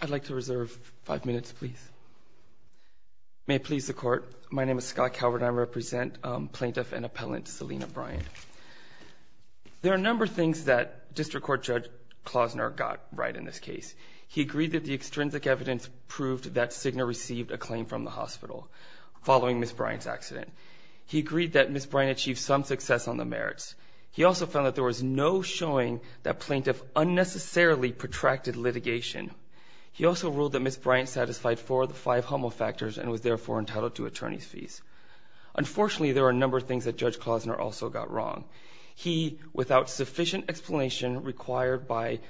I'd like to reserve five minutes please. May it please the court, my name is Scott Calvert and I represent plaintiff and appellant Selena Bryant. There are a number of things that District Court Judge Klausner got right in this case. He agreed that the extrinsic evidence proved that Cigna received a claim from the hospital following Miss Bryant's accident. He agreed that Miss Bryant achieved some success on the merits. He also found that there was no showing that plaintiff unnecessarily protracted litigation. He also ruled that Miss Bryant satisfied four of the five homofactors and was therefore entitled to attorney's fees. Unfortunately there are a number of things that Judge Klausner also got wrong. He, without sufficient explanation required by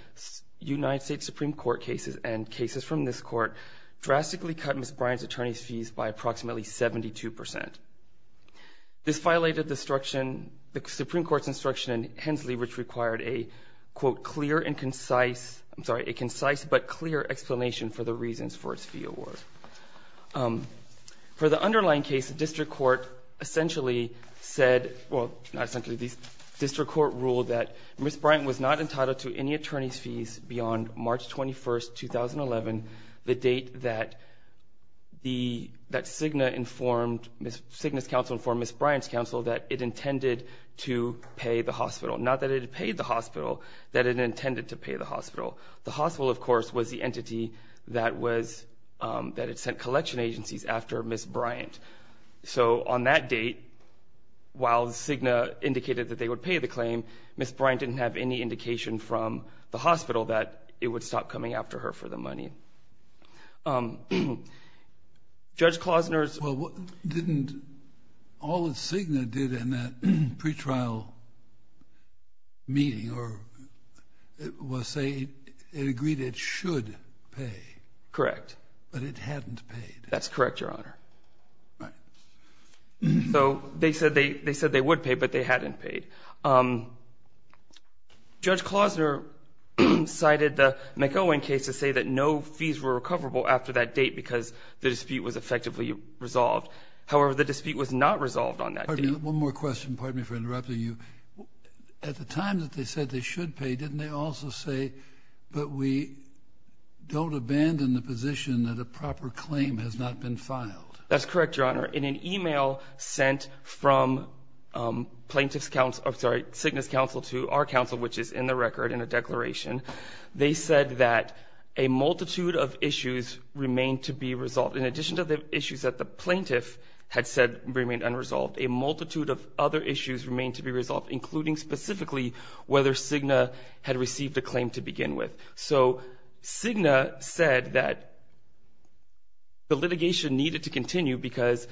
United States Supreme Court cases and cases from this court, drastically cut Miss Bryant's attorney's fees by approximately 72 percent. This violated the Supreme Court's instruction in Hensley which required a quote clear and concise, I'm sorry, a concise but clear explanation for the reasons for its fee award. For the underlying case, District Court essentially said, well not essentially, District Court ruled that Miss Bryant was not entitled to any attorney's fees beyond March 21st 2011, the date that Cigna informed, Cigna's counsel informed Miss Bryant's counsel that it intended to pay the hospital. Not that it paid the hospital, that it intended to pay the hospital. The hospital of course was the entity that was, that it sent collection agencies after Miss Bryant. So on that date, while Cigna indicated that they would pay the claim, Miss Bryant didn't have any indication from the hospital that it would stop coming after her for the money. Judge Klausner's... Well, didn't all that Cigna did in that pre-trial meeting was say, it agreed it should pay. Correct. But it hadn't paid. That's correct, Your Honor. So they said they, they said they would pay but they hadn't paid. Judge Klausner cited the McElwain case to say that no fees were recoverable after that date because the dispute was effectively resolved. However, the dispute was not resolved on that date. One more question, pardon me for interrupting you. At the time that they said they should pay, didn't they also say, but we don't abandon the position that a proper claim has not been filed? That's correct, Your Honor. In an email sent from plaintiff's counsel, sorry, which is in the record in a declaration, they said that a multitude of issues remain to be resolved. In addition to the issues that the plaintiff had said remained unresolved, a multitude of other issues remain to be resolved, including specifically whether Cigna had received a claim to begin with. So Cigna said that the litigation needed to continue because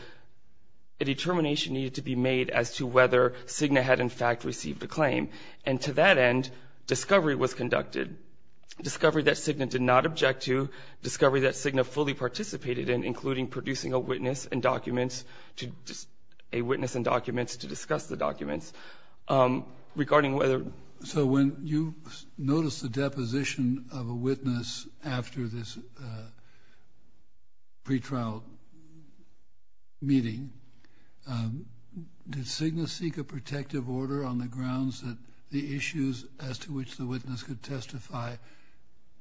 a determination needed to be made as to whether Cigna had in fact received a claim. And to that end, discovery was conducted. Discovery that Cigna did not object to, discovery that Cigna fully participated in, including producing a witness and documents to, a witness and documents to discuss the documents regarding whether. So when you notice the deposition of a witness after this pretrial meeting, did Cigna seek a protective order on the grounds that the issues as to which the witness could testify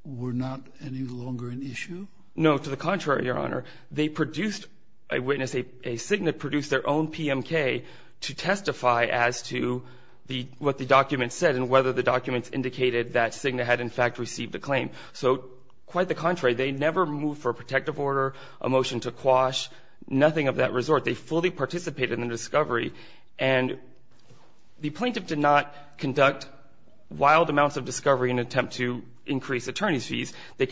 were not any longer an issue? No. To the contrary, Your Honor. They produced a witness, a Cigna produced their own PMK to testify as to the, what the document said and whether the documents indicated that Cigna had in fact received a claim. So quite the contrary, they never moved for a protective order, a motion to quash, nothing of that resort. They fully participated in the discovery and the plaintiff did not conduct wild amounts of discovery in an attempt to increase attorney's fees. We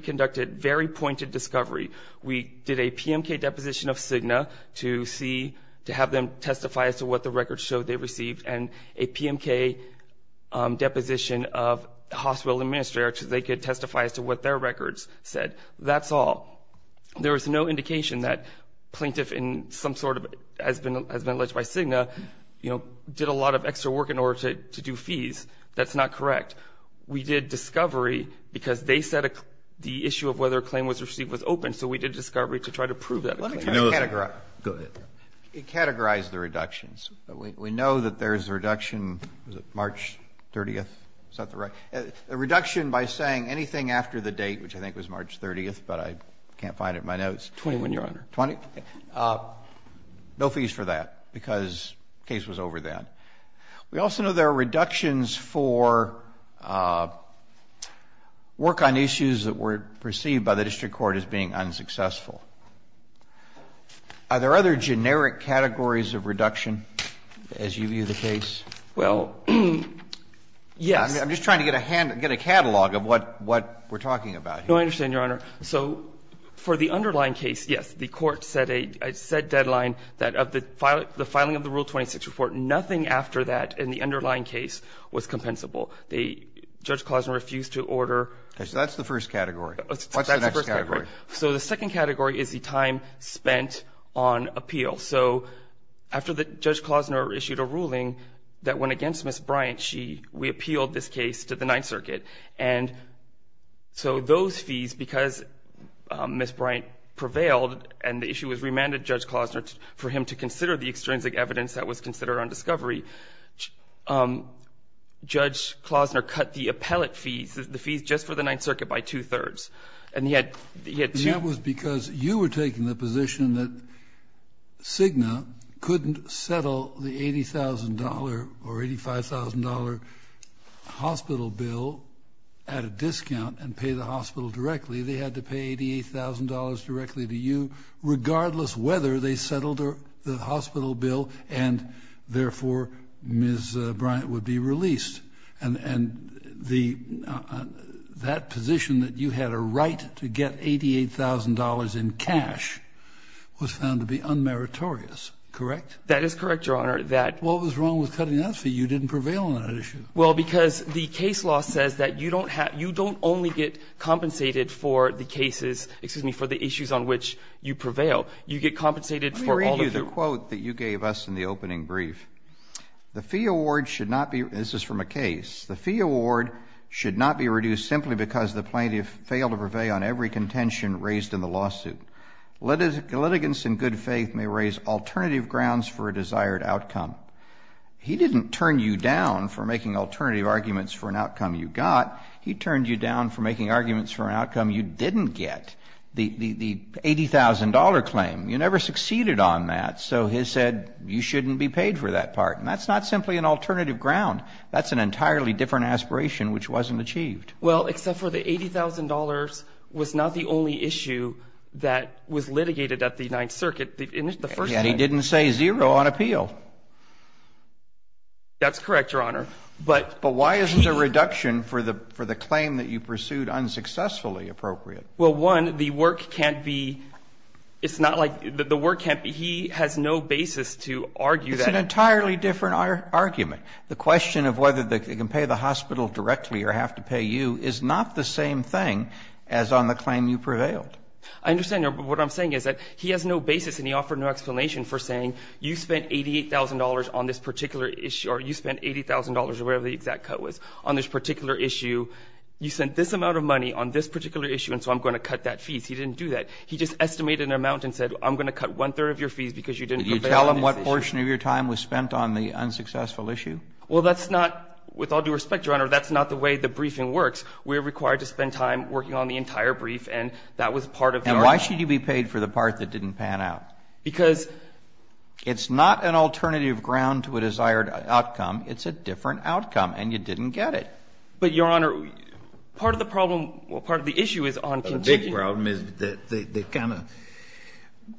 conducted very pointed discovery. We did a PMK deposition of Cigna to see, to have them testify as to what the records showed they received and a PMK deposition of the hospital administrator so they could testify as to what their records said. That's all. There is no indication that plaintiff in some sort of, has been alleged by Cigna, you know, did a lot of extra work in order to do fees. That's not correct. We did discovery because they said the issue of whether a claim was received was open, so we did discovery to try to prove that. Go ahead. It categorized the reductions. We know that there's a reduction, was it March 30th? Is that the right? A reduction by saying anything after the date, which I think was March 30th, but I can't find it in my notes. Twenty-one, Your Honor. Twenty? No fees for that, because the case was over then. We also know there are reductions for work on issues that were perceived by the district court as being unsuccessful. Are there other generic categories of reduction as you view the case? Well, yes. I'm just trying to get a catalog of what we're talking about here. No, I understand, Your Honor. So for the underlying case, yes, the court set a deadline that of the filing of the Rule 26 report, nothing after that in the underlying case was compensable. Judge Klosner refused to order. Okay. So that's the first category. What's the next category? So the second category is the time spent on appeal. So after Judge Klosner issued a ruling that went against Ms. Bryant, she, we appealed this case to the Ninth Circuit. And so those fees, because Ms. Bryant prevailed and the issue was remanded to Judge Klosner for him to consider the extrinsic evidence that was considered on discovery, Judge Klosner cut the appellate fees, the fees just for the Ninth Circuit, by two thirds. And he had, he had two. And that was because you were taking the position that Cigna couldn't settle the at a discount and pay the hospital directly. They had to pay $88,000 directly to you, regardless whether they settled the hospital bill. And therefore, Ms. Bryant would be released. And the that position that you had a right to get $88,000 in cash was found to be unmeritorious, correct? That is correct, Your Honor, that. What was wrong with cutting that fee? You didn't prevail on that issue. Well, because the case law says that you don't have, you don't only get compensated for the cases, excuse me, for the issues on which you prevail, you get compensated for all of your. Let me read you the quote that you gave us in the opening brief. The fee award should not be, this is from a case, the fee award should not be reduced simply because the plaintiff failed to prevail on every contention raised in the lawsuit. Litigants in good faith may raise alternative grounds for a desired outcome. He didn't turn you down for making alternative arguments for an outcome you got. He turned you down for making arguments for an outcome you didn't get. The $80,000 claim, you never succeeded on that. So he said you shouldn't be paid for that part. And that's not simply an alternative ground. That's an entirely different aspiration, which wasn't achieved. Well, except for the $80,000 was not the only issue that was litigated at the Ninth Circuit. And he didn't say zero on appeal. That's correct, Your Honor. But why is there a reduction for the claim that you pursued unsuccessfully appropriate? Well, one, the work can't be, it's not like, the work can't be, he has no basis to argue that. It's an entirely different argument. The question of whether they can pay the hospital directly or have to pay you is not the same thing as on the claim you prevailed. I understand what I'm saying is that he has no basis and he offered no explanation for saying you spent $88,000 on this particular issue or you spent $80,000 or whatever the exact cut was on this particular issue. You sent this amount of money on this particular issue and so I'm going to cut that fee. He didn't do that. He just estimated an amount and said I'm going to cut one third of your fees because you didn't prevail on this issue. Did you tell him what portion of your time was spent on the unsuccessful issue? Well, that's not, with all due respect, Your Honor, that's not the way the briefing works. We're required to spend time working on the entire brief. And that was part of the argument. And why should you be paid for the part that didn't pan out? Because it's not an alternative ground to a desired outcome. It's a different outcome and you didn't get it. But, Your Honor, part of the problem or part of the issue is on conviction. The big problem is they kind of,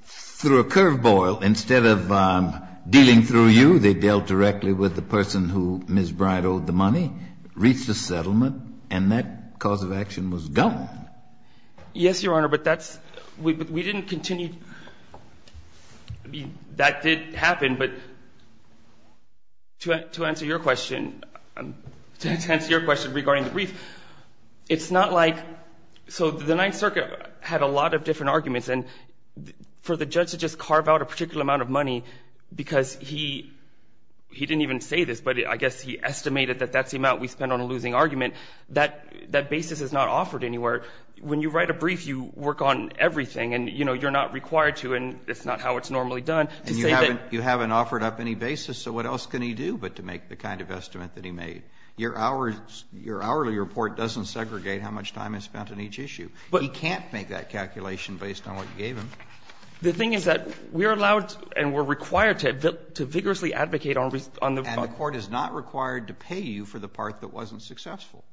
through a curve ball, instead of dealing through you, they dealt directly with the person who Ms. Bright owed the money, reached a settlement, and that cause of action was gone. Yes, Your Honor, but that's, we didn't continue, that did happen, but to answer your question, to answer your question regarding the brief, it's not like, so the Ninth Circuit had a lot of different arguments. And for the judge to just carve out a particular amount of money because he, he didn't even say this, but I guess he estimated that that's the amount we spend on a losing argument, that basis is not offered anywhere. When you write a brief, you work on everything and, you know, you're not required to and it's not how it's normally done to say that. And you haven't offered up any basis, so what else can he do but to make the kind of estimate that he made? Your hourly report doesn't segregate how much time is spent on each issue. He can't make that calculation based on what you gave him. The thing is that we're allowed and we're required to vigorously advocate on the court. And the court is not required to pay you for the part that wasn't successful.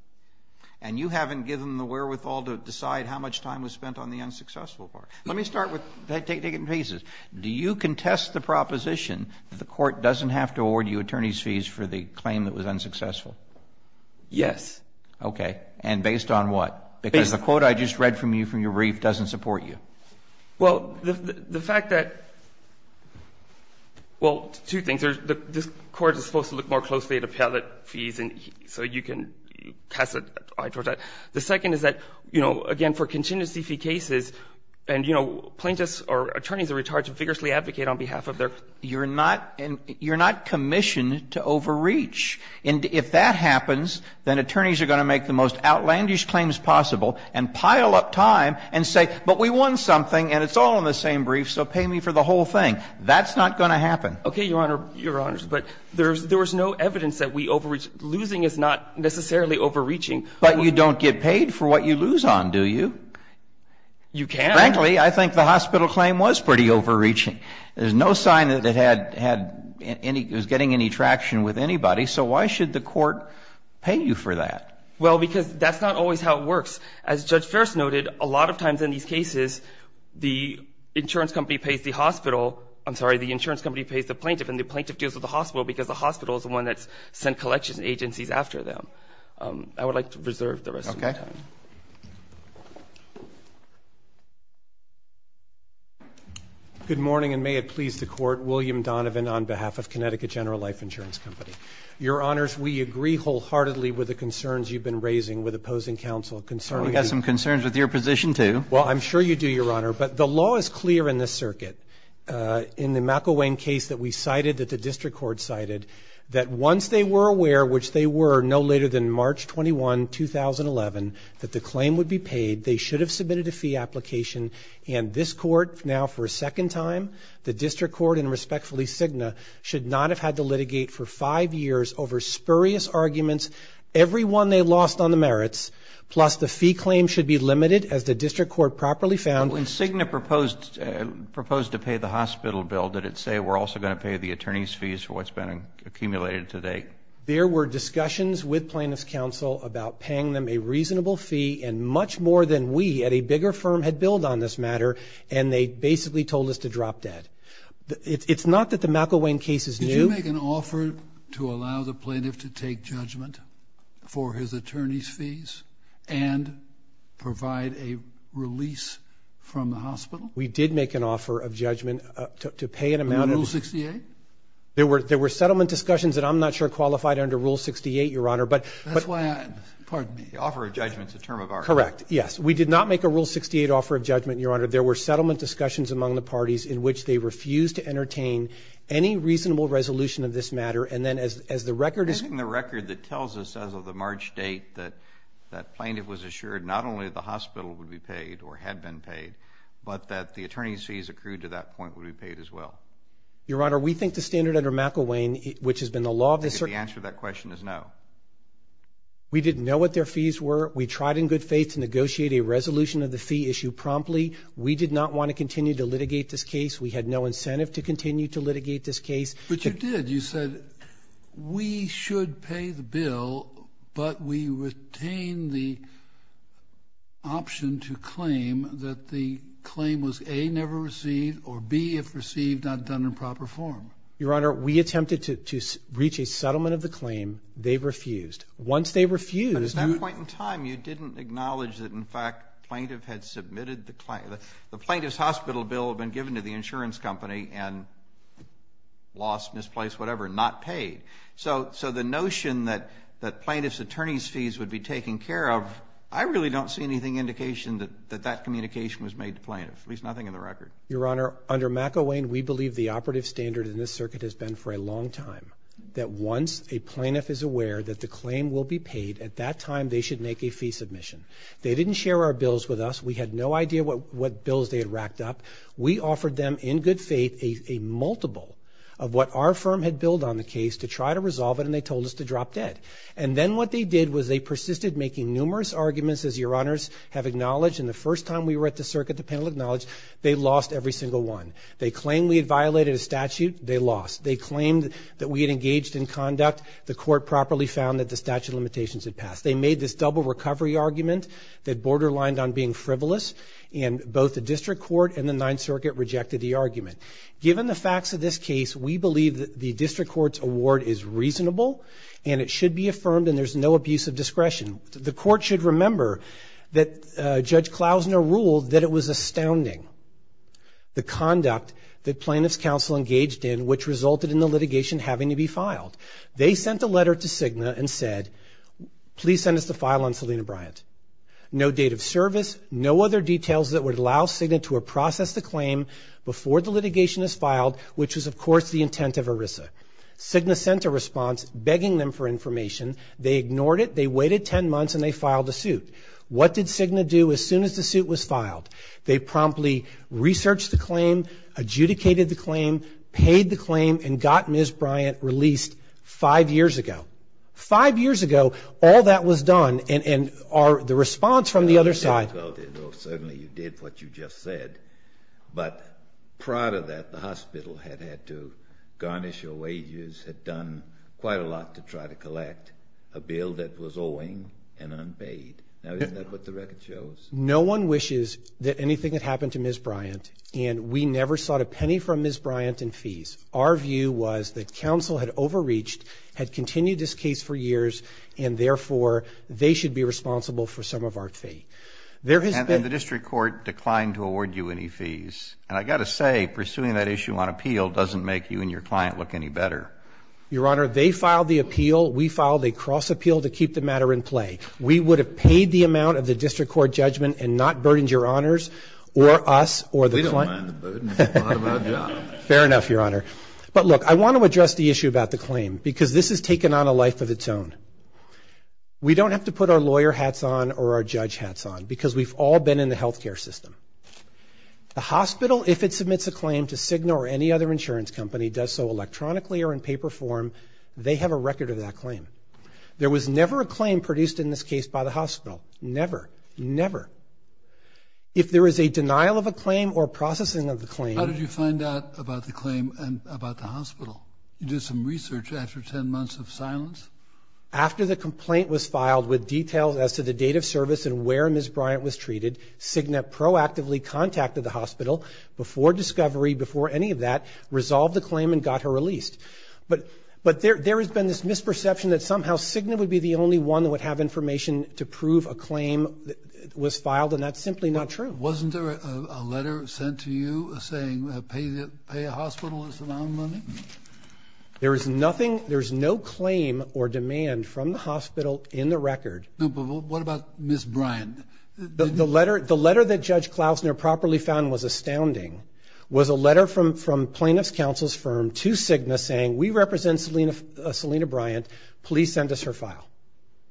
And you haven't given the wherewithal to decide how much time was spent on the unsuccessful part. Let me start with, take it in pieces. Do you contest the proposition that the court doesn't have to award you attorney's fees for the claim that was unsuccessful? Yes. Okay. And based on what? Because the quote I just read from you from your brief doesn't support you. Well, the fact that, well, two things. The court is supposed to look more closely at appellate fees so you can, you know, cast an eye towards that. The second is that, you know, again, for contingency fee cases, and, you know, plaintiffs or attorneys are required to vigorously advocate on behalf of their You're not commissioned to overreach. And if that happens, then attorneys are going to make the most outlandish claims possible and pile up time and say, but we won something and it's all in the same brief, so pay me for the whole thing. That's not going to happen. Okay, Your Honor, but there was no evidence that we overreached. Losing is not necessarily overreaching. But you don't get paid for what you lose on, do you? You can. Frankly, I think the hospital claim was pretty overreaching. There's no sign that it had any, it was getting any traction with anybody. So why should the court pay you for that? Well, because that's not always how it works. As Judge Ferris noted, a lot of times in these cases, the insurance company pays the hospital, I'm sorry, the insurance company pays the plaintiff and the plaintiff deals with the hospital because the hospital is the one that's sent collections agencies after them. I would like to reserve the rest of my time. Okay. Good morning, and may it please the Court, William Donovan on behalf of Connecticut General Life Insurance Company. Your Honors, we agree wholeheartedly with the concerns you've been raising with opposing counsel concerning... Well, we have some concerns with your position, too. Well, I'm sure you do, Your Honor, but the law is clear in this circuit. In the McElwain case that we cited, that the district court cited, that once they were aware, which they were no later than March 21, 2011, that the claim would be paid, they should have submitted a fee application, and this court now for a second time, the district court and respectfully Cigna, should not have had to litigate for five years over spurious arguments, every one they lost on the merits, plus the fee claim should be limited as the district court properly found... Did it say we're going to pay the hospital bill? Did it say we're also going to pay the attorney's fees for what's been accumulated to date? There were discussions with plaintiff's counsel about paying them a reasonable fee, and much more than we at a bigger firm had billed on this matter, and they basically told us to drop dead. It's not that the McElwain case is new... Did you make an offer to allow the plaintiff to take judgment for his attorney's fees and provide a release from the hospital? We did make an offer of judgment to pay an amount of... Under Rule 68? There were settlement discussions that I'm not sure qualified under Rule 68, Your Honor, but... That's why I... Pardon me. The offer of judgment's a term of art. Correct, yes. We did not make a Rule 68 offer of judgment, Your Honor. There were settlement discussions among the parties in which they refused to entertain any reasonable resolution of this matter, and then as the record... And the record that tells us as of the March date that plaintiff was assured not only that the hospital would be paid or had been paid, but that the attorney's fees accrued to that point would be paid as well. Your Honor, we think the standard under McElwain, which has been the law of... I think the answer to that question is no. We didn't know what their fees were. We tried in good faith to negotiate a resolution of the fee issue promptly. We did not want to continue to litigate this case. We had no incentive to continue to litigate this case. But you did. You said, we should pay the bill, but we retain the option to claim that the claim was A, never received, or B, if received, not done in proper form. Your Honor, we attempted to reach a settlement of the claim. They refused. Once they refused... But at that point in time, you didn't acknowledge that, in fact, the plaintiff's hospital bill had been given to the insurance company and lost, misplaced, whatever, not paid. So the notion that plaintiff's attorney's fees would be taken care of, I really don't see anything indication that that communication was made to plaintiff, at least nothing in the record. Your Honor, under McElwain, we believe the operative standard in this circuit has been for a long time, that once a plaintiff is aware that the claim will be paid, at that time, they should make a fee submission. They didn't share our bills with us. We had no idea what bills they had racked up. We offered them, in good faith, a multiple of what our firm had billed on the case to try to resolve it, and they told us to drop dead. And then what they did was they persisted making numerous arguments, as Your Honors have acknowledged, and the first time we were at the circuit, the panel acknowledged, they lost every single one. They claimed we had violated a statute. They lost. They claimed that we had engaged in conduct. The court properly found that the statute of limitations had passed. They made this double recovery argument that borderlined on being frivolous, and both the district court and the Ninth Circuit rejected the argument. Given the facts of this case, we believe that the district court's award is reasonable, and it should be affirmed, and there's no abuse of discretion. The court should remember that Judge Klausner ruled that it was astounding, the conduct that plaintiff's counsel engaged in, which resulted in the litigation having to be filed. They sent a letter to Cigna and said, please send us the file on Selina Bryant. No date of service. No other details that would allow Cigna to process the claim before the litigation is filed, which was, of course, the intent of ERISA. Cigna sent a response begging them for information. They ignored it. They waited 10 months, and they filed a suit. What did Cigna do as soon as the suit was filed? They promptly researched the claim, adjudicated the claim, paid the claim, and got Ms. Bryant released five years ago. Five years ago, all that was done, and the response from the other side... Well, certainly you did what you just said, but prior to that, the hospital had had to garnish your wages, had done quite a lot to try to collect a bill that was owing and unpaid. Now, isn't that what the record shows? No one wishes that anything had happened to Ms. Bryant, and we never sought a penny from Ms. Bryant in fees. Our view was that counsel had overreached, had continued this case for years, and therefore, they should be responsible for some of our fee. There has been... And the district court declined to award you any fees. And I've got to say, pursuing that issue on appeal doesn't make you and your client look any better. Your Honor, they filed the appeal. We filed a cross-appeal to keep the matter in play. We would have paid the amount of the district court judgment and not burdened Your Honors or us or the client. We don't mind the burden. It's a part of our job. Fair enough, Your Honor. But look, I want to address the issue about the claim, because this has taken on a life of its own. We don't have to put our lawyer hats on or our judge hats on, because we've all been in the health care system. The hospital, if it submits a claim to Cigna or any other insurance company, does so electronically or in paper form, they have a record of that claim. There was never a claim produced in this case by the hospital. Never. Never. If there is a denial of a claim or processing of the claim... How did you find out about the claim and about the hospital? You did some research after 10 months of silence? After the complaint was filed with details as to the date of service and where Ms. Bryant was treated, Cigna proactively contacted the hospital before discovery, before any of that, resolved the claim and got her released. But there has been this misperception that somehow Cigna would be the only one that would have information to prove a claim was filed, and that's simply not true. Wasn't there a letter sent to you saying, pay the hospital this amount of money? There is nothing, there's no claim or demand from the hospital in the record. What about Ms. Bryant? The letter that Judge Klausner properly found was astounding, was a letter from plaintiff's counsel's firm to Cigna saying, we represent Selena Bryant, please send us her file.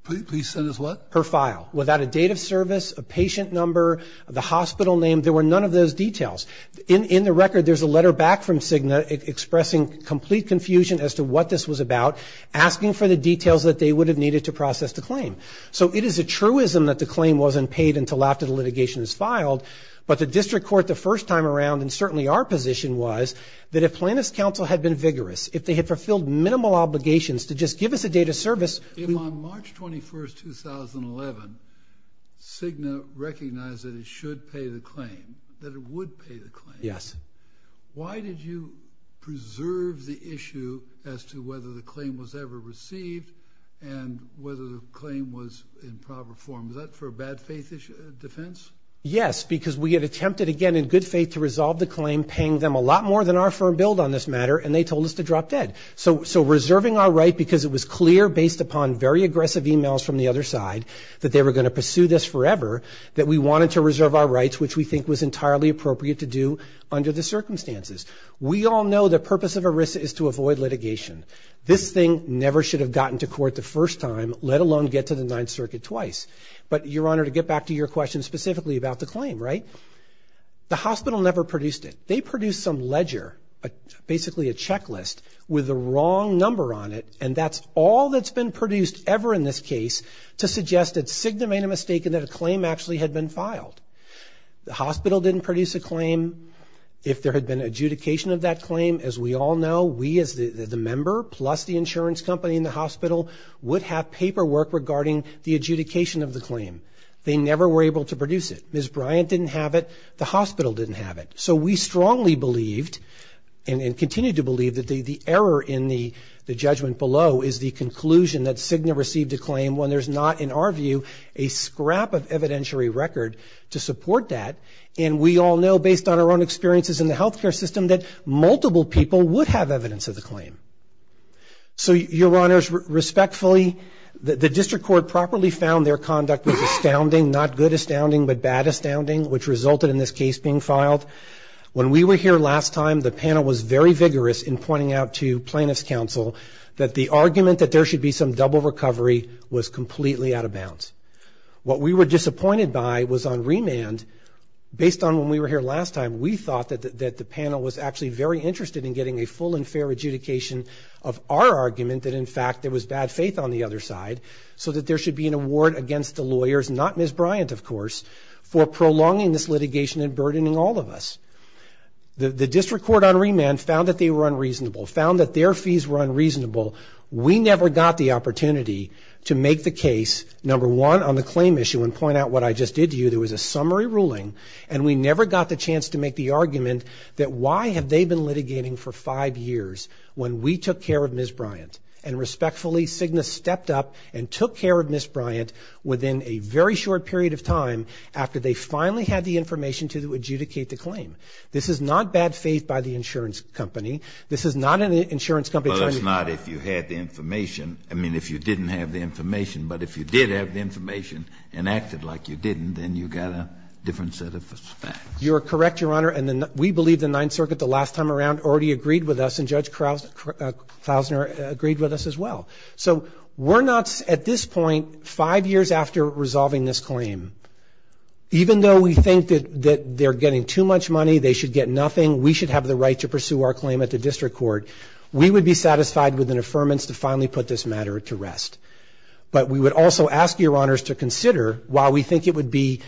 Please send us what? Her file. Without a date of service, a patient number, the hospital name, there were none of those details. In the record, there's a letter back from Cigna expressing complete confusion as to what this was about, asking for the details that they would have needed to process the claim. So it is a truism that the claim wasn't paid until after the litigation is filed. But the district court, the first time around, and certainly our position was that if plaintiff's counsel had been vigorous, if they had fulfilled minimal obligations to just give us a date of service. If on March 21st, 2011, Cigna recognized that it should pay the claim, that it would pay the claim. Yes. Why did you preserve the issue as to whether the claim was ever received and whether the claim was in proper form? Is that for a bad faith defense? Yes, because we had attempted again in good faith to resolve the claim, paying them a lot more than our firm billed on this matter, and they told us to drop dead. So reserving our right because it was clear based upon very aggressive emails from the other side that they were going to pursue this forever, that we wanted to reserve our rights, which we think was entirely appropriate to do under the circumstances. We all know the purpose of ERISA is to avoid litigation. This thing never should have gotten to court the first time, let alone get to the Ninth Circuit twice. But Your Honor, to get back to your question specifically about the claim, right? The hospital never produced it. They produced some ledger, basically a checklist with the wrong number on it, and that's all that's been produced ever in this case to suggest that Cigna made a mistake and that a claim actually had been filed. The hospital didn't produce a claim. If there had been adjudication of that claim, as we all know, we as the member, plus the insurance company and the hospital, would have paperwork regarding the adjudication of the claim. They never were able to produce it. Ms. Bryant didn't have it. The hospital didn't have it. So we strongly believed and continue to believe that the error in the judgment below is the conclusion that Cigna received a claim when there's not, in our view, a scrap of evidentiary record to support that. And we all know, based on our own experiences in the healthcare system, that multiple people would have evidence of the claim. So, Your Honors, respectfully, the district court properly found their conduct was astounding, not good astounding, but bad astounding, which resulted in this case being filed. When we were here last time, the panel was very vigorous in pointing out to Plaintiff's Council that the argument that there should be some double recovery was completely out of bounds. What we were disappointed by was on remand, based on when we were here last time, we thought that the panel was actually very interested in getting a full and fair adjudication of our argument that, in fact, there was bad faith on the other side, so that there should be an award against the lawyers, not Ms. Bryant, of course, for prolonging this litigation and burdening all of us. The district court on remand found that they were unreasonable, found that their fees were unreasonable. We never got the opportunity to make the case, number one, on the claim issue and point out what I just did to you. There was a summary ruling, and we never got the chance to make the argument that why have they been litigating for five years when we took care of Ms. Bryant? And respectfully, Cigna stepped up and took care of Ms. Bryant within a very short period of time after they finally had the information to adjudicate the claim. This is not bad faith by the insurance company. This is not an insurance company. Well, that's not if you had the information. I mean, if you didn't have the information. But if you did have the information and acted like you didn't, then you got a different set of facts. You're correct, Your Honor. And we believe the Ninth Circuit the last time around already agreed with us, and Judge Klausner agreed with us as well. So we're not, at this point, five years after resolving this claim, even though we think that they're getting too much money, they should get nothing, we should have the right to pursue our claim at the district court, we would be satisfied with an affirmance to finally put this matter to rest. But we would also ask Your Honors to consider, while we think it would be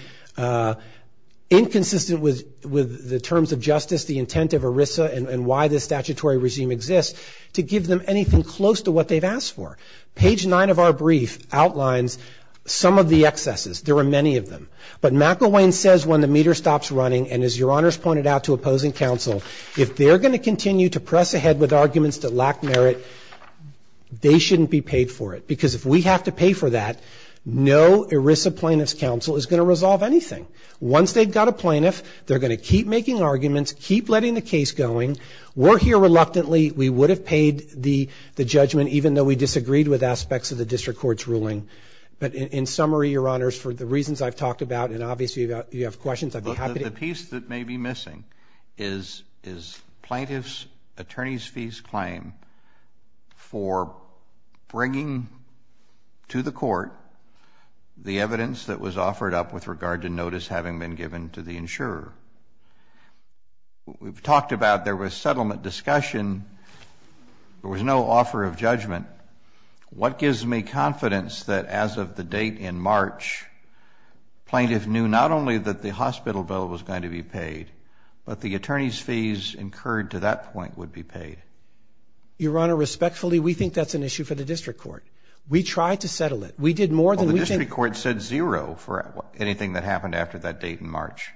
inconsistent with the terms of justice, the intent of ERISA, and why this statutory regime exists, to give them anything close to what they've asked for. Page 9 of our brief outlines some of the excesses. There are many of them. But McElwain says when the meter stops running, and as Your Honors pointed out to opposing counsel, if they're going to continue to press ahead with arguments that lack merit, they shouldn't be paid for it. Because if we have to pay for that, no ERISA plaintiff's counsel is going to resolve anything. Once they've got a plaintiff, they're going to keep making arguments, keep letting the case going. We're here reluctantly. of the district court's ruling. But in summary, Your Honors, for the reasons I've talked about, and obviously you have questions, I'd be happy to- The piece that may be missing is plaintiff's attorney's fees claim for bringing to the court the evidence that was offered up with regard to notice having been given to the insurer. We've talked about there was settlement discussion. There was no offer of judgment. What gives me confidence that as of the date in March, plaintiff knew not only that the hospital bill was going to be paid, but the attorney's fees incurred to that point would be paid? Your Honor, respectfully, we think that's an issue for the district court. We tried to settle it. We did more than- The district court said zero for anything that happened after that date in March.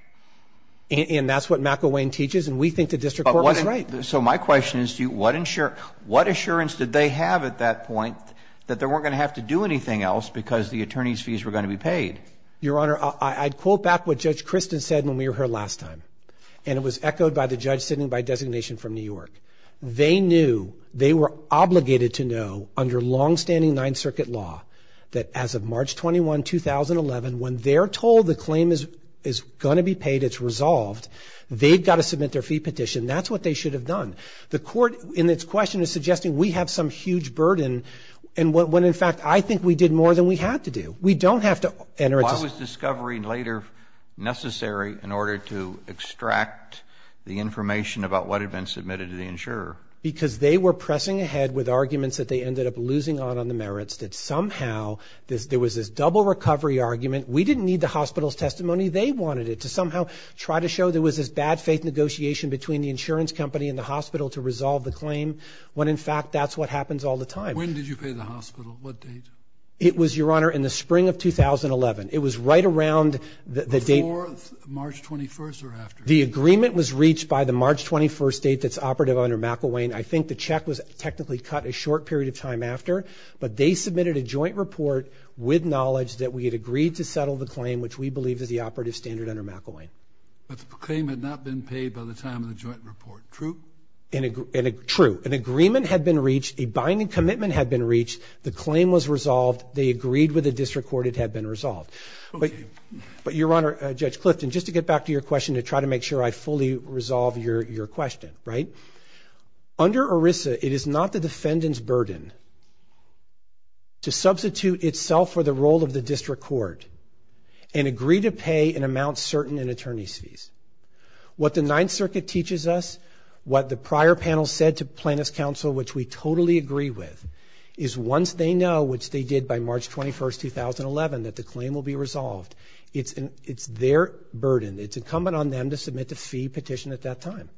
And that's what McElwain teaches. And we think the district court was right. So my question is, what assurance did they have at that point that they weren't going to have to do anything else because the attorney's fees were going to be paid? Your Honor, I'd quote back what Judge Christin said when we were here last time. And it was echoed by the judge sitting by designation from New York. They knew, they were obligated to know under longstanding Ninth Circuit law that as of March 21, 2011, when they're told the claim is going to be paid, it's resolved, they've got to submit their fee petition. That's what they should have done. The court, in its question, is suggesting we have some huge burden when, in fact, I think we did more than we had to do. We don't have to enter into- Why was discovery later necessary in order to extract the information about what had been submitted to the insurer? Because they were pressing ahead with arguments that they ended up losing on the merits, that somehow there was this double recovery argument. We didn't need the hospital's testimony. They wanted it to somehow try to show there was this bad faith negotiation between the insurance company and the hospital to resolve the claim, when, in fact, that's what happens all the time. When did you pay the hospital? What date? It was, Your Honor, in the spring of 2011. It was right around the date- Before March 21st or after? The agreement was reached by the March 21st date that's operative under McElwain. I think the check was technically cut a short period of time after, but they submitted a joint report with knowledge that we had agreed to settle the claim, which we believe is the operative standard under McElwain. But the claim had not been paid by the time of the joint report. True? True. An agreement had been reached. A binding commitment had been reached. The claim was resolved. They agreed with the district court. It had been resolved. But, Your Honor, Judge Clifton, just to get back to your question to try to make sure I fully resolve your question, right? Under ERISA, it is not the defendant's burden to substitute itself for the role of the district court and agree to pay an amount certain in attorney's fees. What the Ninth Circuit teaches us, what the prior panel said to plaintiff's counsel, which we totally agree with, is once they know, which they did by March 21st, 2011, that the claim will be resolved, it's their burden. It's incumbent on them to submit the fee petition at that time.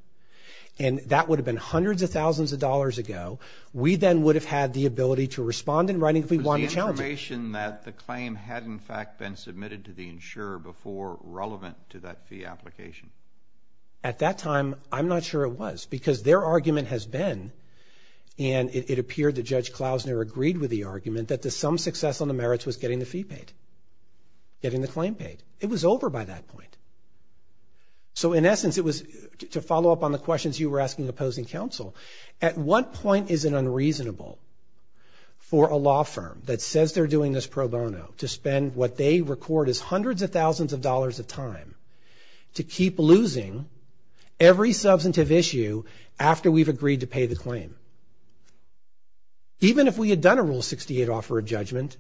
And that would have been hundreds of thousands of dollars ago. We then would have had the ability to respond in writing if we wanted to challenge it. The claim had, in fact, been submitted to the insurer before relevant to that fee application. At that time, I'm not sure it was because their argument has been, and it appeared that Judge Klausner agreed with the argument, that to some success on the merits was getting the fee paid, getting the claim paid. It was over by that point. So, in essence, it was to follow up on the questions you were asking opposing counsel. At what point is it unreasonable for a law firm that says they're doing this pro bono to spend what they record as hundreds of thousands of dollars of time to keep losing every substantive issue after we've agreed to pay the claim? Even if we had done a Rule 68 offer of judgment,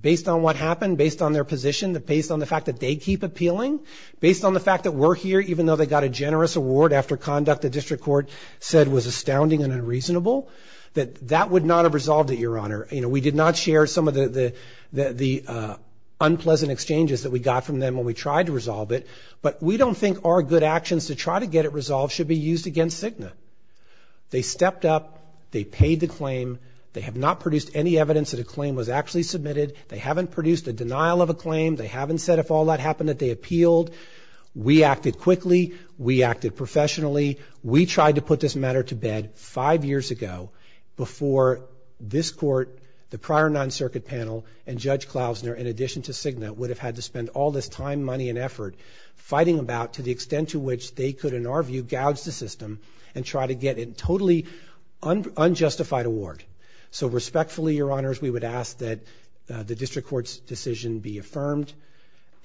based on what happened, based on their position, based on the fact that they keep appealing, based on the fact that we're here, even though they got a generous award after conduct the district court said was astounding and unreasonable, that that would not have resolved it, Your Honor. You know, we did not share some of the unpleasant exchanges that we got from them when we tried to resolve it, but we don't think our good actions to try to get it resolved should be used against Cigna. They stepped up. They paid the claim. They have not produced any evidence that a claim was actually submitted. They haven't produced a denial of a claim. They haven't said if all that happened that they appealed. We acted quickly. We acted professionally. We tried to put this matter to bed five years ago before this court, the prior non-circuit panel, and Judge Klausner, in addition to Cigna, would have had to spend all this time, money, and effort fighting about to the extent to which they could, in our view, gouge the system and try to get a totally unjustified award. So respectfully, Your Honors, we would ask that the district court's decision be affirmed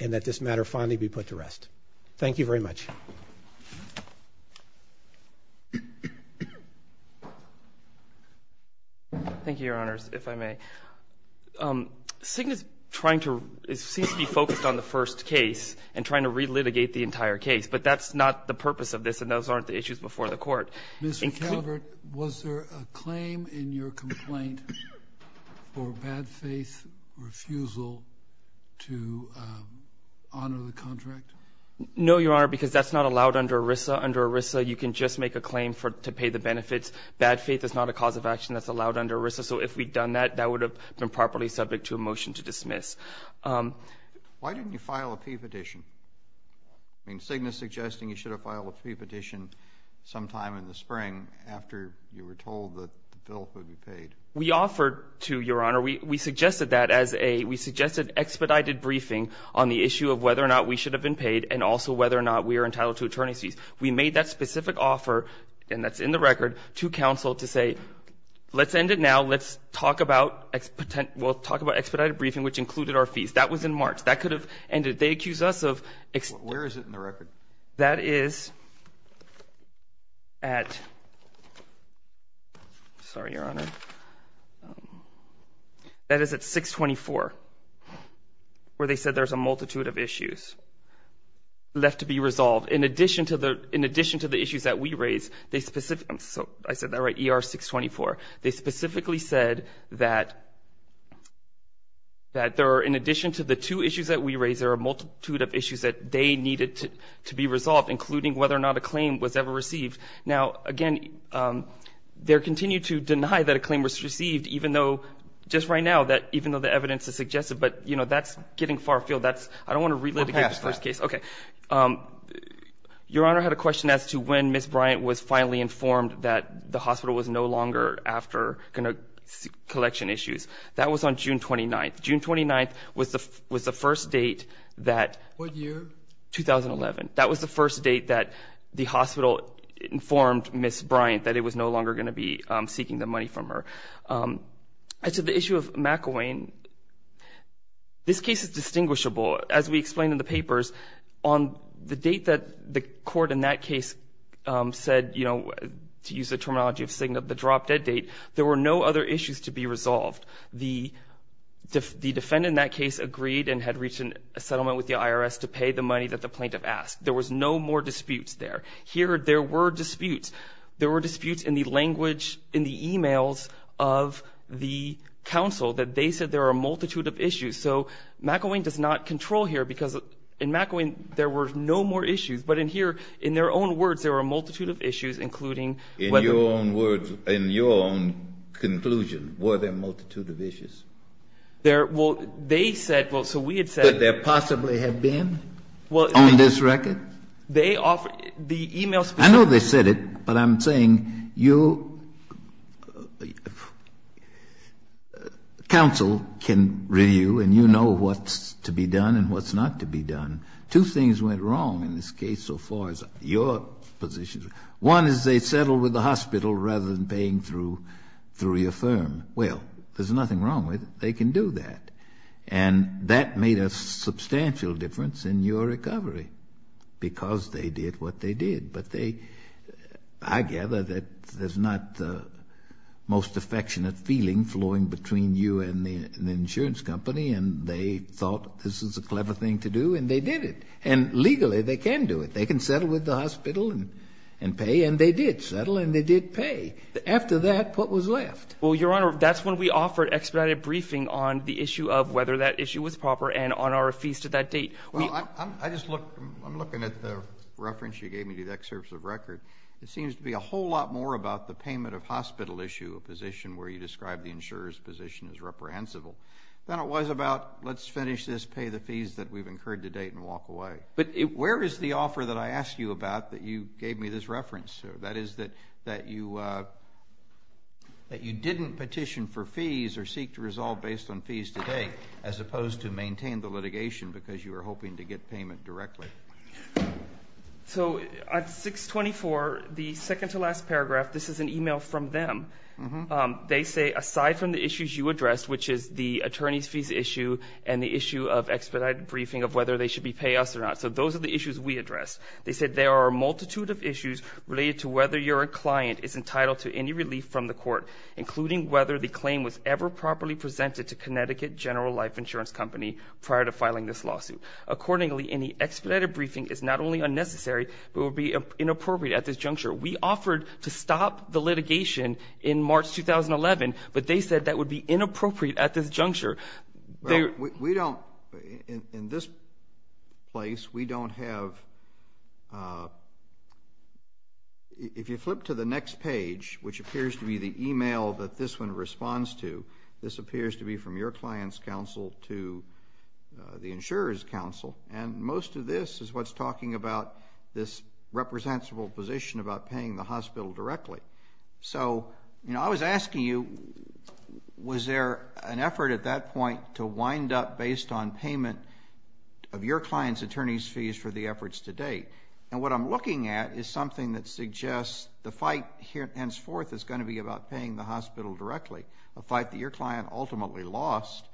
and that this matter finally be put to rest. Thank you very much. Thank you, Your Honors, if I may. Cigna is trying to be focused on the first case and trying to relitigate the entire case, but that's not the purpose of this, and those aren't the issues before the court. Mr. Calvert, was there a claim in your complaint for bad faith refusal to honor the contract? No, Your Honor, because that's not allowed under ERISA. Under ERISA, you can just make a claim to pay the benefits. Bad faith is not a cause of action that's allowed under ERISA, so if we'd done that, that would have been properly subject to a motion to dismiss. Why didn't you file a P petition? I mean, Cigna's suggesting you should have filed a P petition sometime in the spring after you were told that the bill would be paid. We offered to, Your Honor, we suggested that as a, we suggested expedited briefing on the issue of whether or not we should have been paid and also whether or not we are entitled to attorneys fees. We made that specific offer, and that's in the record, to counsel to say, let's end it now. Let's talk about, we'll talk about expedited briefing, which included our fees. That was in March. That could have ended. They accused us of... Where is it in the record? That is at, sorry, Your Honor, there's a multitude of issues left to be resolved. In addition to the issues that we raised, they specifically, I said that right, ER 624. They specifically said that there are, in addition to the two issues that we raised, there are a multitude of issues that they needed to be resolved, including whether or not a claim was ever received. Now, again, they continue to deny that a claim was received, even though just right now, that even though the evidence is suggestive, but that's getting far afield. That's, I don't want to relitigate this first case. Okay. Your Honor had a question as to when Ms. Bryant was finally informed that the hospital was no longer after going to collection issues. That was on June 29th. June 29th was the first date that... What year? 2011. That was the first date that the hospital informed Ms. Bryant that it was no longer going to be seeking the money from her. As to the issue of McElwain, this case is distinguishable. As we explained in the papers, on the date that the court in that case said, to use the terminology of SIGNA, the drop-dead date, there were no other issues to be resolved. The defendant in that case agreed and had reached a settlement with the IRS to pay the money that the plaintiff asked. There was no more disputes there. Here, there were disputes. There were disputes in the language, in the emails of the counsel that they said there are a multitude of issues. So McElwain does not control here, because in McElwain, there were no more issues. But in here, in their own words, there were a multitude of issues, including whether... In your own words, in your own conclusion, were there a multitude of issues? There... Well, they said... Well, so we had said... Could there possibly have been on this record? They offered... The emails... I know they said it, but I'm saying you... Counsel can review, and you know what's to be done and what's not to be done. Two things went wrong in this case, so far as your position. One is they settled with the hospital rather than paying through your firm. Well, there's nothing wrong with it. They can do that. And that made a substantial difference in your recovery, because they did what they did. But they... I gather that there's not the most affectionate feeling flowing between you and the insurance company, and they thought this was a clever thing to do, and they did it. And legally, they can do it. They can settle with the hospital and pay, and they did settle, and they did pay. After that, what was left? Well, Your Honor, that's when we offered expedited briefing on the issue of whether that issue was proper and on our fees to that date. Well, I just look... I'm looking at the reference you gave me to the excerpts of record. It seems to be a whole lot more about the payment of the insurance position as reprehensible than it was about, let's finish this, pay the fees that we've incurred to date and walk away. But where is the offer that I asked you about that you gave me this reference to? That is, that you didn't petition for fees or seek to resolve based on fees today, as opposed to maintain the litigation because you were hoping to get payment directly. So at 624, the second to last paragraph, this is an email from them. They say, aside from the issues you addressed, which is the attorney's fees issue and the issue of expedited briefing of whether they should be pay us or not. So those are the issues we addressed. They said, there are a multitude of issues related to whether your client is entitled to any relief from the court, including whether the claim was ever properly presented to Connecticut General Life Insurance Company prior to filing this lawsuit. Accordingly, any expedited briefing is not only unnecessary, but will be inappropriate at this juncture. We offered to stop the litigation in March 2011, but they said that would be inappropriate at this juncture. Well, we don't, in this place, we don't have, if you flip to the next page, which appears to be the email that this one responds to, this appears to be from your client's counsel to the insurer's counsel. And most of this is what's talking about this representable position about paying the hospital directly. So, you know, I was asking you, was there an effort at that point to wind up based on payment of your client's attorney's fees for the efforts to date? And what I'm looking at is something that suggests the fight here henceforth is going to be about paying the hospital directly, a fight that your client ultimately lost.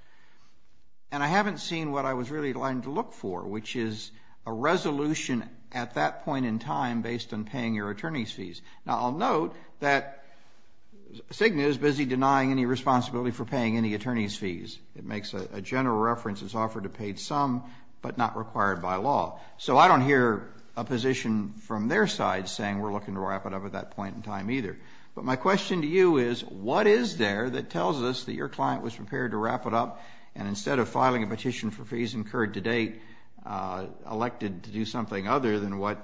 And I haven't seen what I was really going to look for, which is a resolution at that point in time based on paying your attorney's fees. Now, I'll note that Cigna is busy denying any responsibility for paying any attorney's fees. It makes a general reference, it's offered a paid sum, but not required by law. So I don't hear a position from their side saying we're looking to wrap it up at that point in time either. But my question to you is, what is there that tells us that your client was prepared to wrap it up and instead of filing a petition for fees incurred to date, elected to do something other than what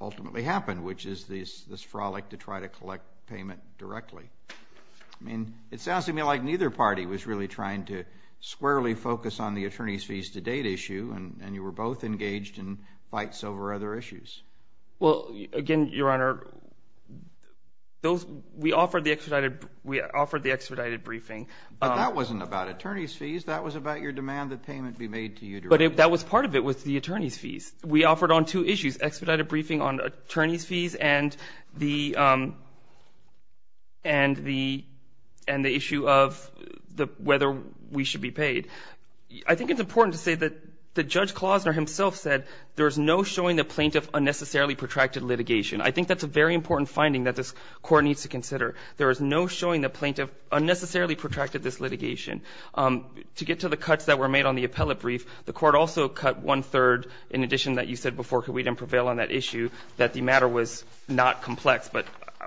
ultimately happened, which is this frolic to try to collect payment directly? I mean, it sounds to me like neither party was really trying to squarely focus on the attorney's fees to date issue and you were both engaged in fights over other issues. Well, again, Your Honor, we offered the expedited briefing. But that wasn't about attorney's fees, that was about your demand that payment be made to you directly. But that was part of it was the attorney's fees. We offered on two issues, expedited briefing on attorney's fees and the issue of whether we should be paid. I think it's important to say that Judge Klozner himself said there's no showing the plaintiff unnecessarily protracted litigation. I think that's a very important finding that this court needs to consider. There is no showing the plaintiff unnecessarily protracted this litigation. To get to the cuts that were made on the appellate brief, the court also cut one-third, in addition that you said before, could we then prevail on that issue, that the matter was not complex, but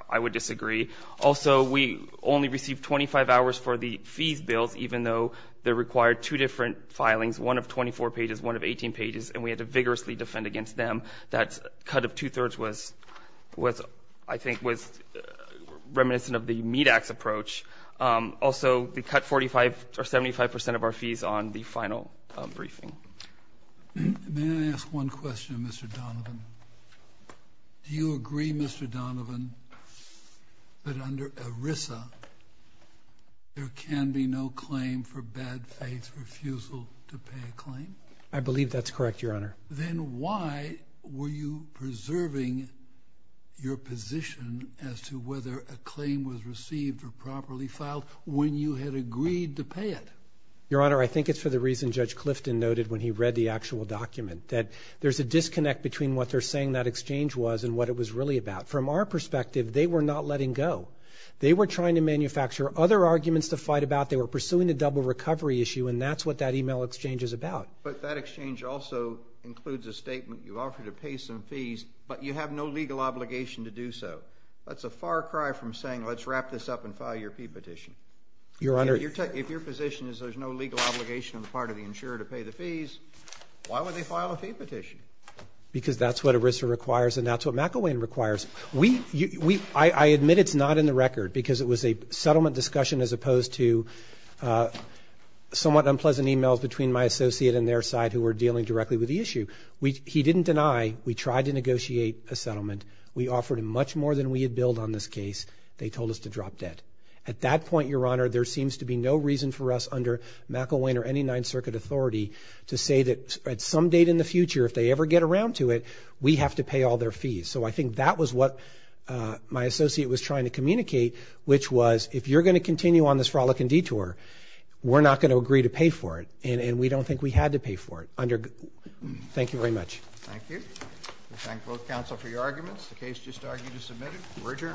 I would disagree. Also, we only received 25 hours for the fees bills, even though they required two different filings, one of 24 pages, one of 18 pages, and we had to vigorously defend against them. That cut of two-thirds was, I think, was reminiscent of the MEDAX approach. Also, they cut 75% of our fees on the final briefing. May I ask one question, Mr. Donovan? Do you agree, Mr. Donovan, that under ERISA, there can be no claim for bad faith refusal to pay a claim? I believe that's correct, Your Honor. Then why were you preserving your position as to whether a claim was received or properly filed when you had agreed to pay it? Your Honor, I think it's for the reason Judge Clifton noted when he read the actual document, that there's a disconnect between what they're saying that exchange was and what it was really about. From our perspective, they were not letting go. They were trying to manufacture other arguments to fight about, they were pursuing a double recovery issue, and that's what that email exchange is about. But that exchange also includes a statement, you offer to pay some fees, but you have no legal obligation to do so. That's a far cry from saying, let's wrap this up and file your fee petition. Your Honor. If your position is there's no legal obligation on the part of the insurer to pay the fees, why would they file a fee petition? Because that's what ERISA requires, and that's what McElwain requires. I admit it's not in the record because it was a settlement discussion as opposed to somewhat unpleasant emails between my associate and their side who were dealing directly with the issue. He didn't deny we tried to negotiate a settlement. We offered him much more than we had billed on this case. They told us to drop debt. At that point, Your Honor, there seems to be no reason for us under McElwain or any Ninth Circuit authority to say that at some date in the future, if they ever get around to it, we have to pay all their fees. So I think that was what my associate was trying to communicate, which was if you're going to continue on this frolic and detour, we're not going to agree to pay for it. And we don't think we had to pay for it. Thank you very much. Thank you. We thank both counsel for your arguments. The case just argued is submitted. We're adjourned.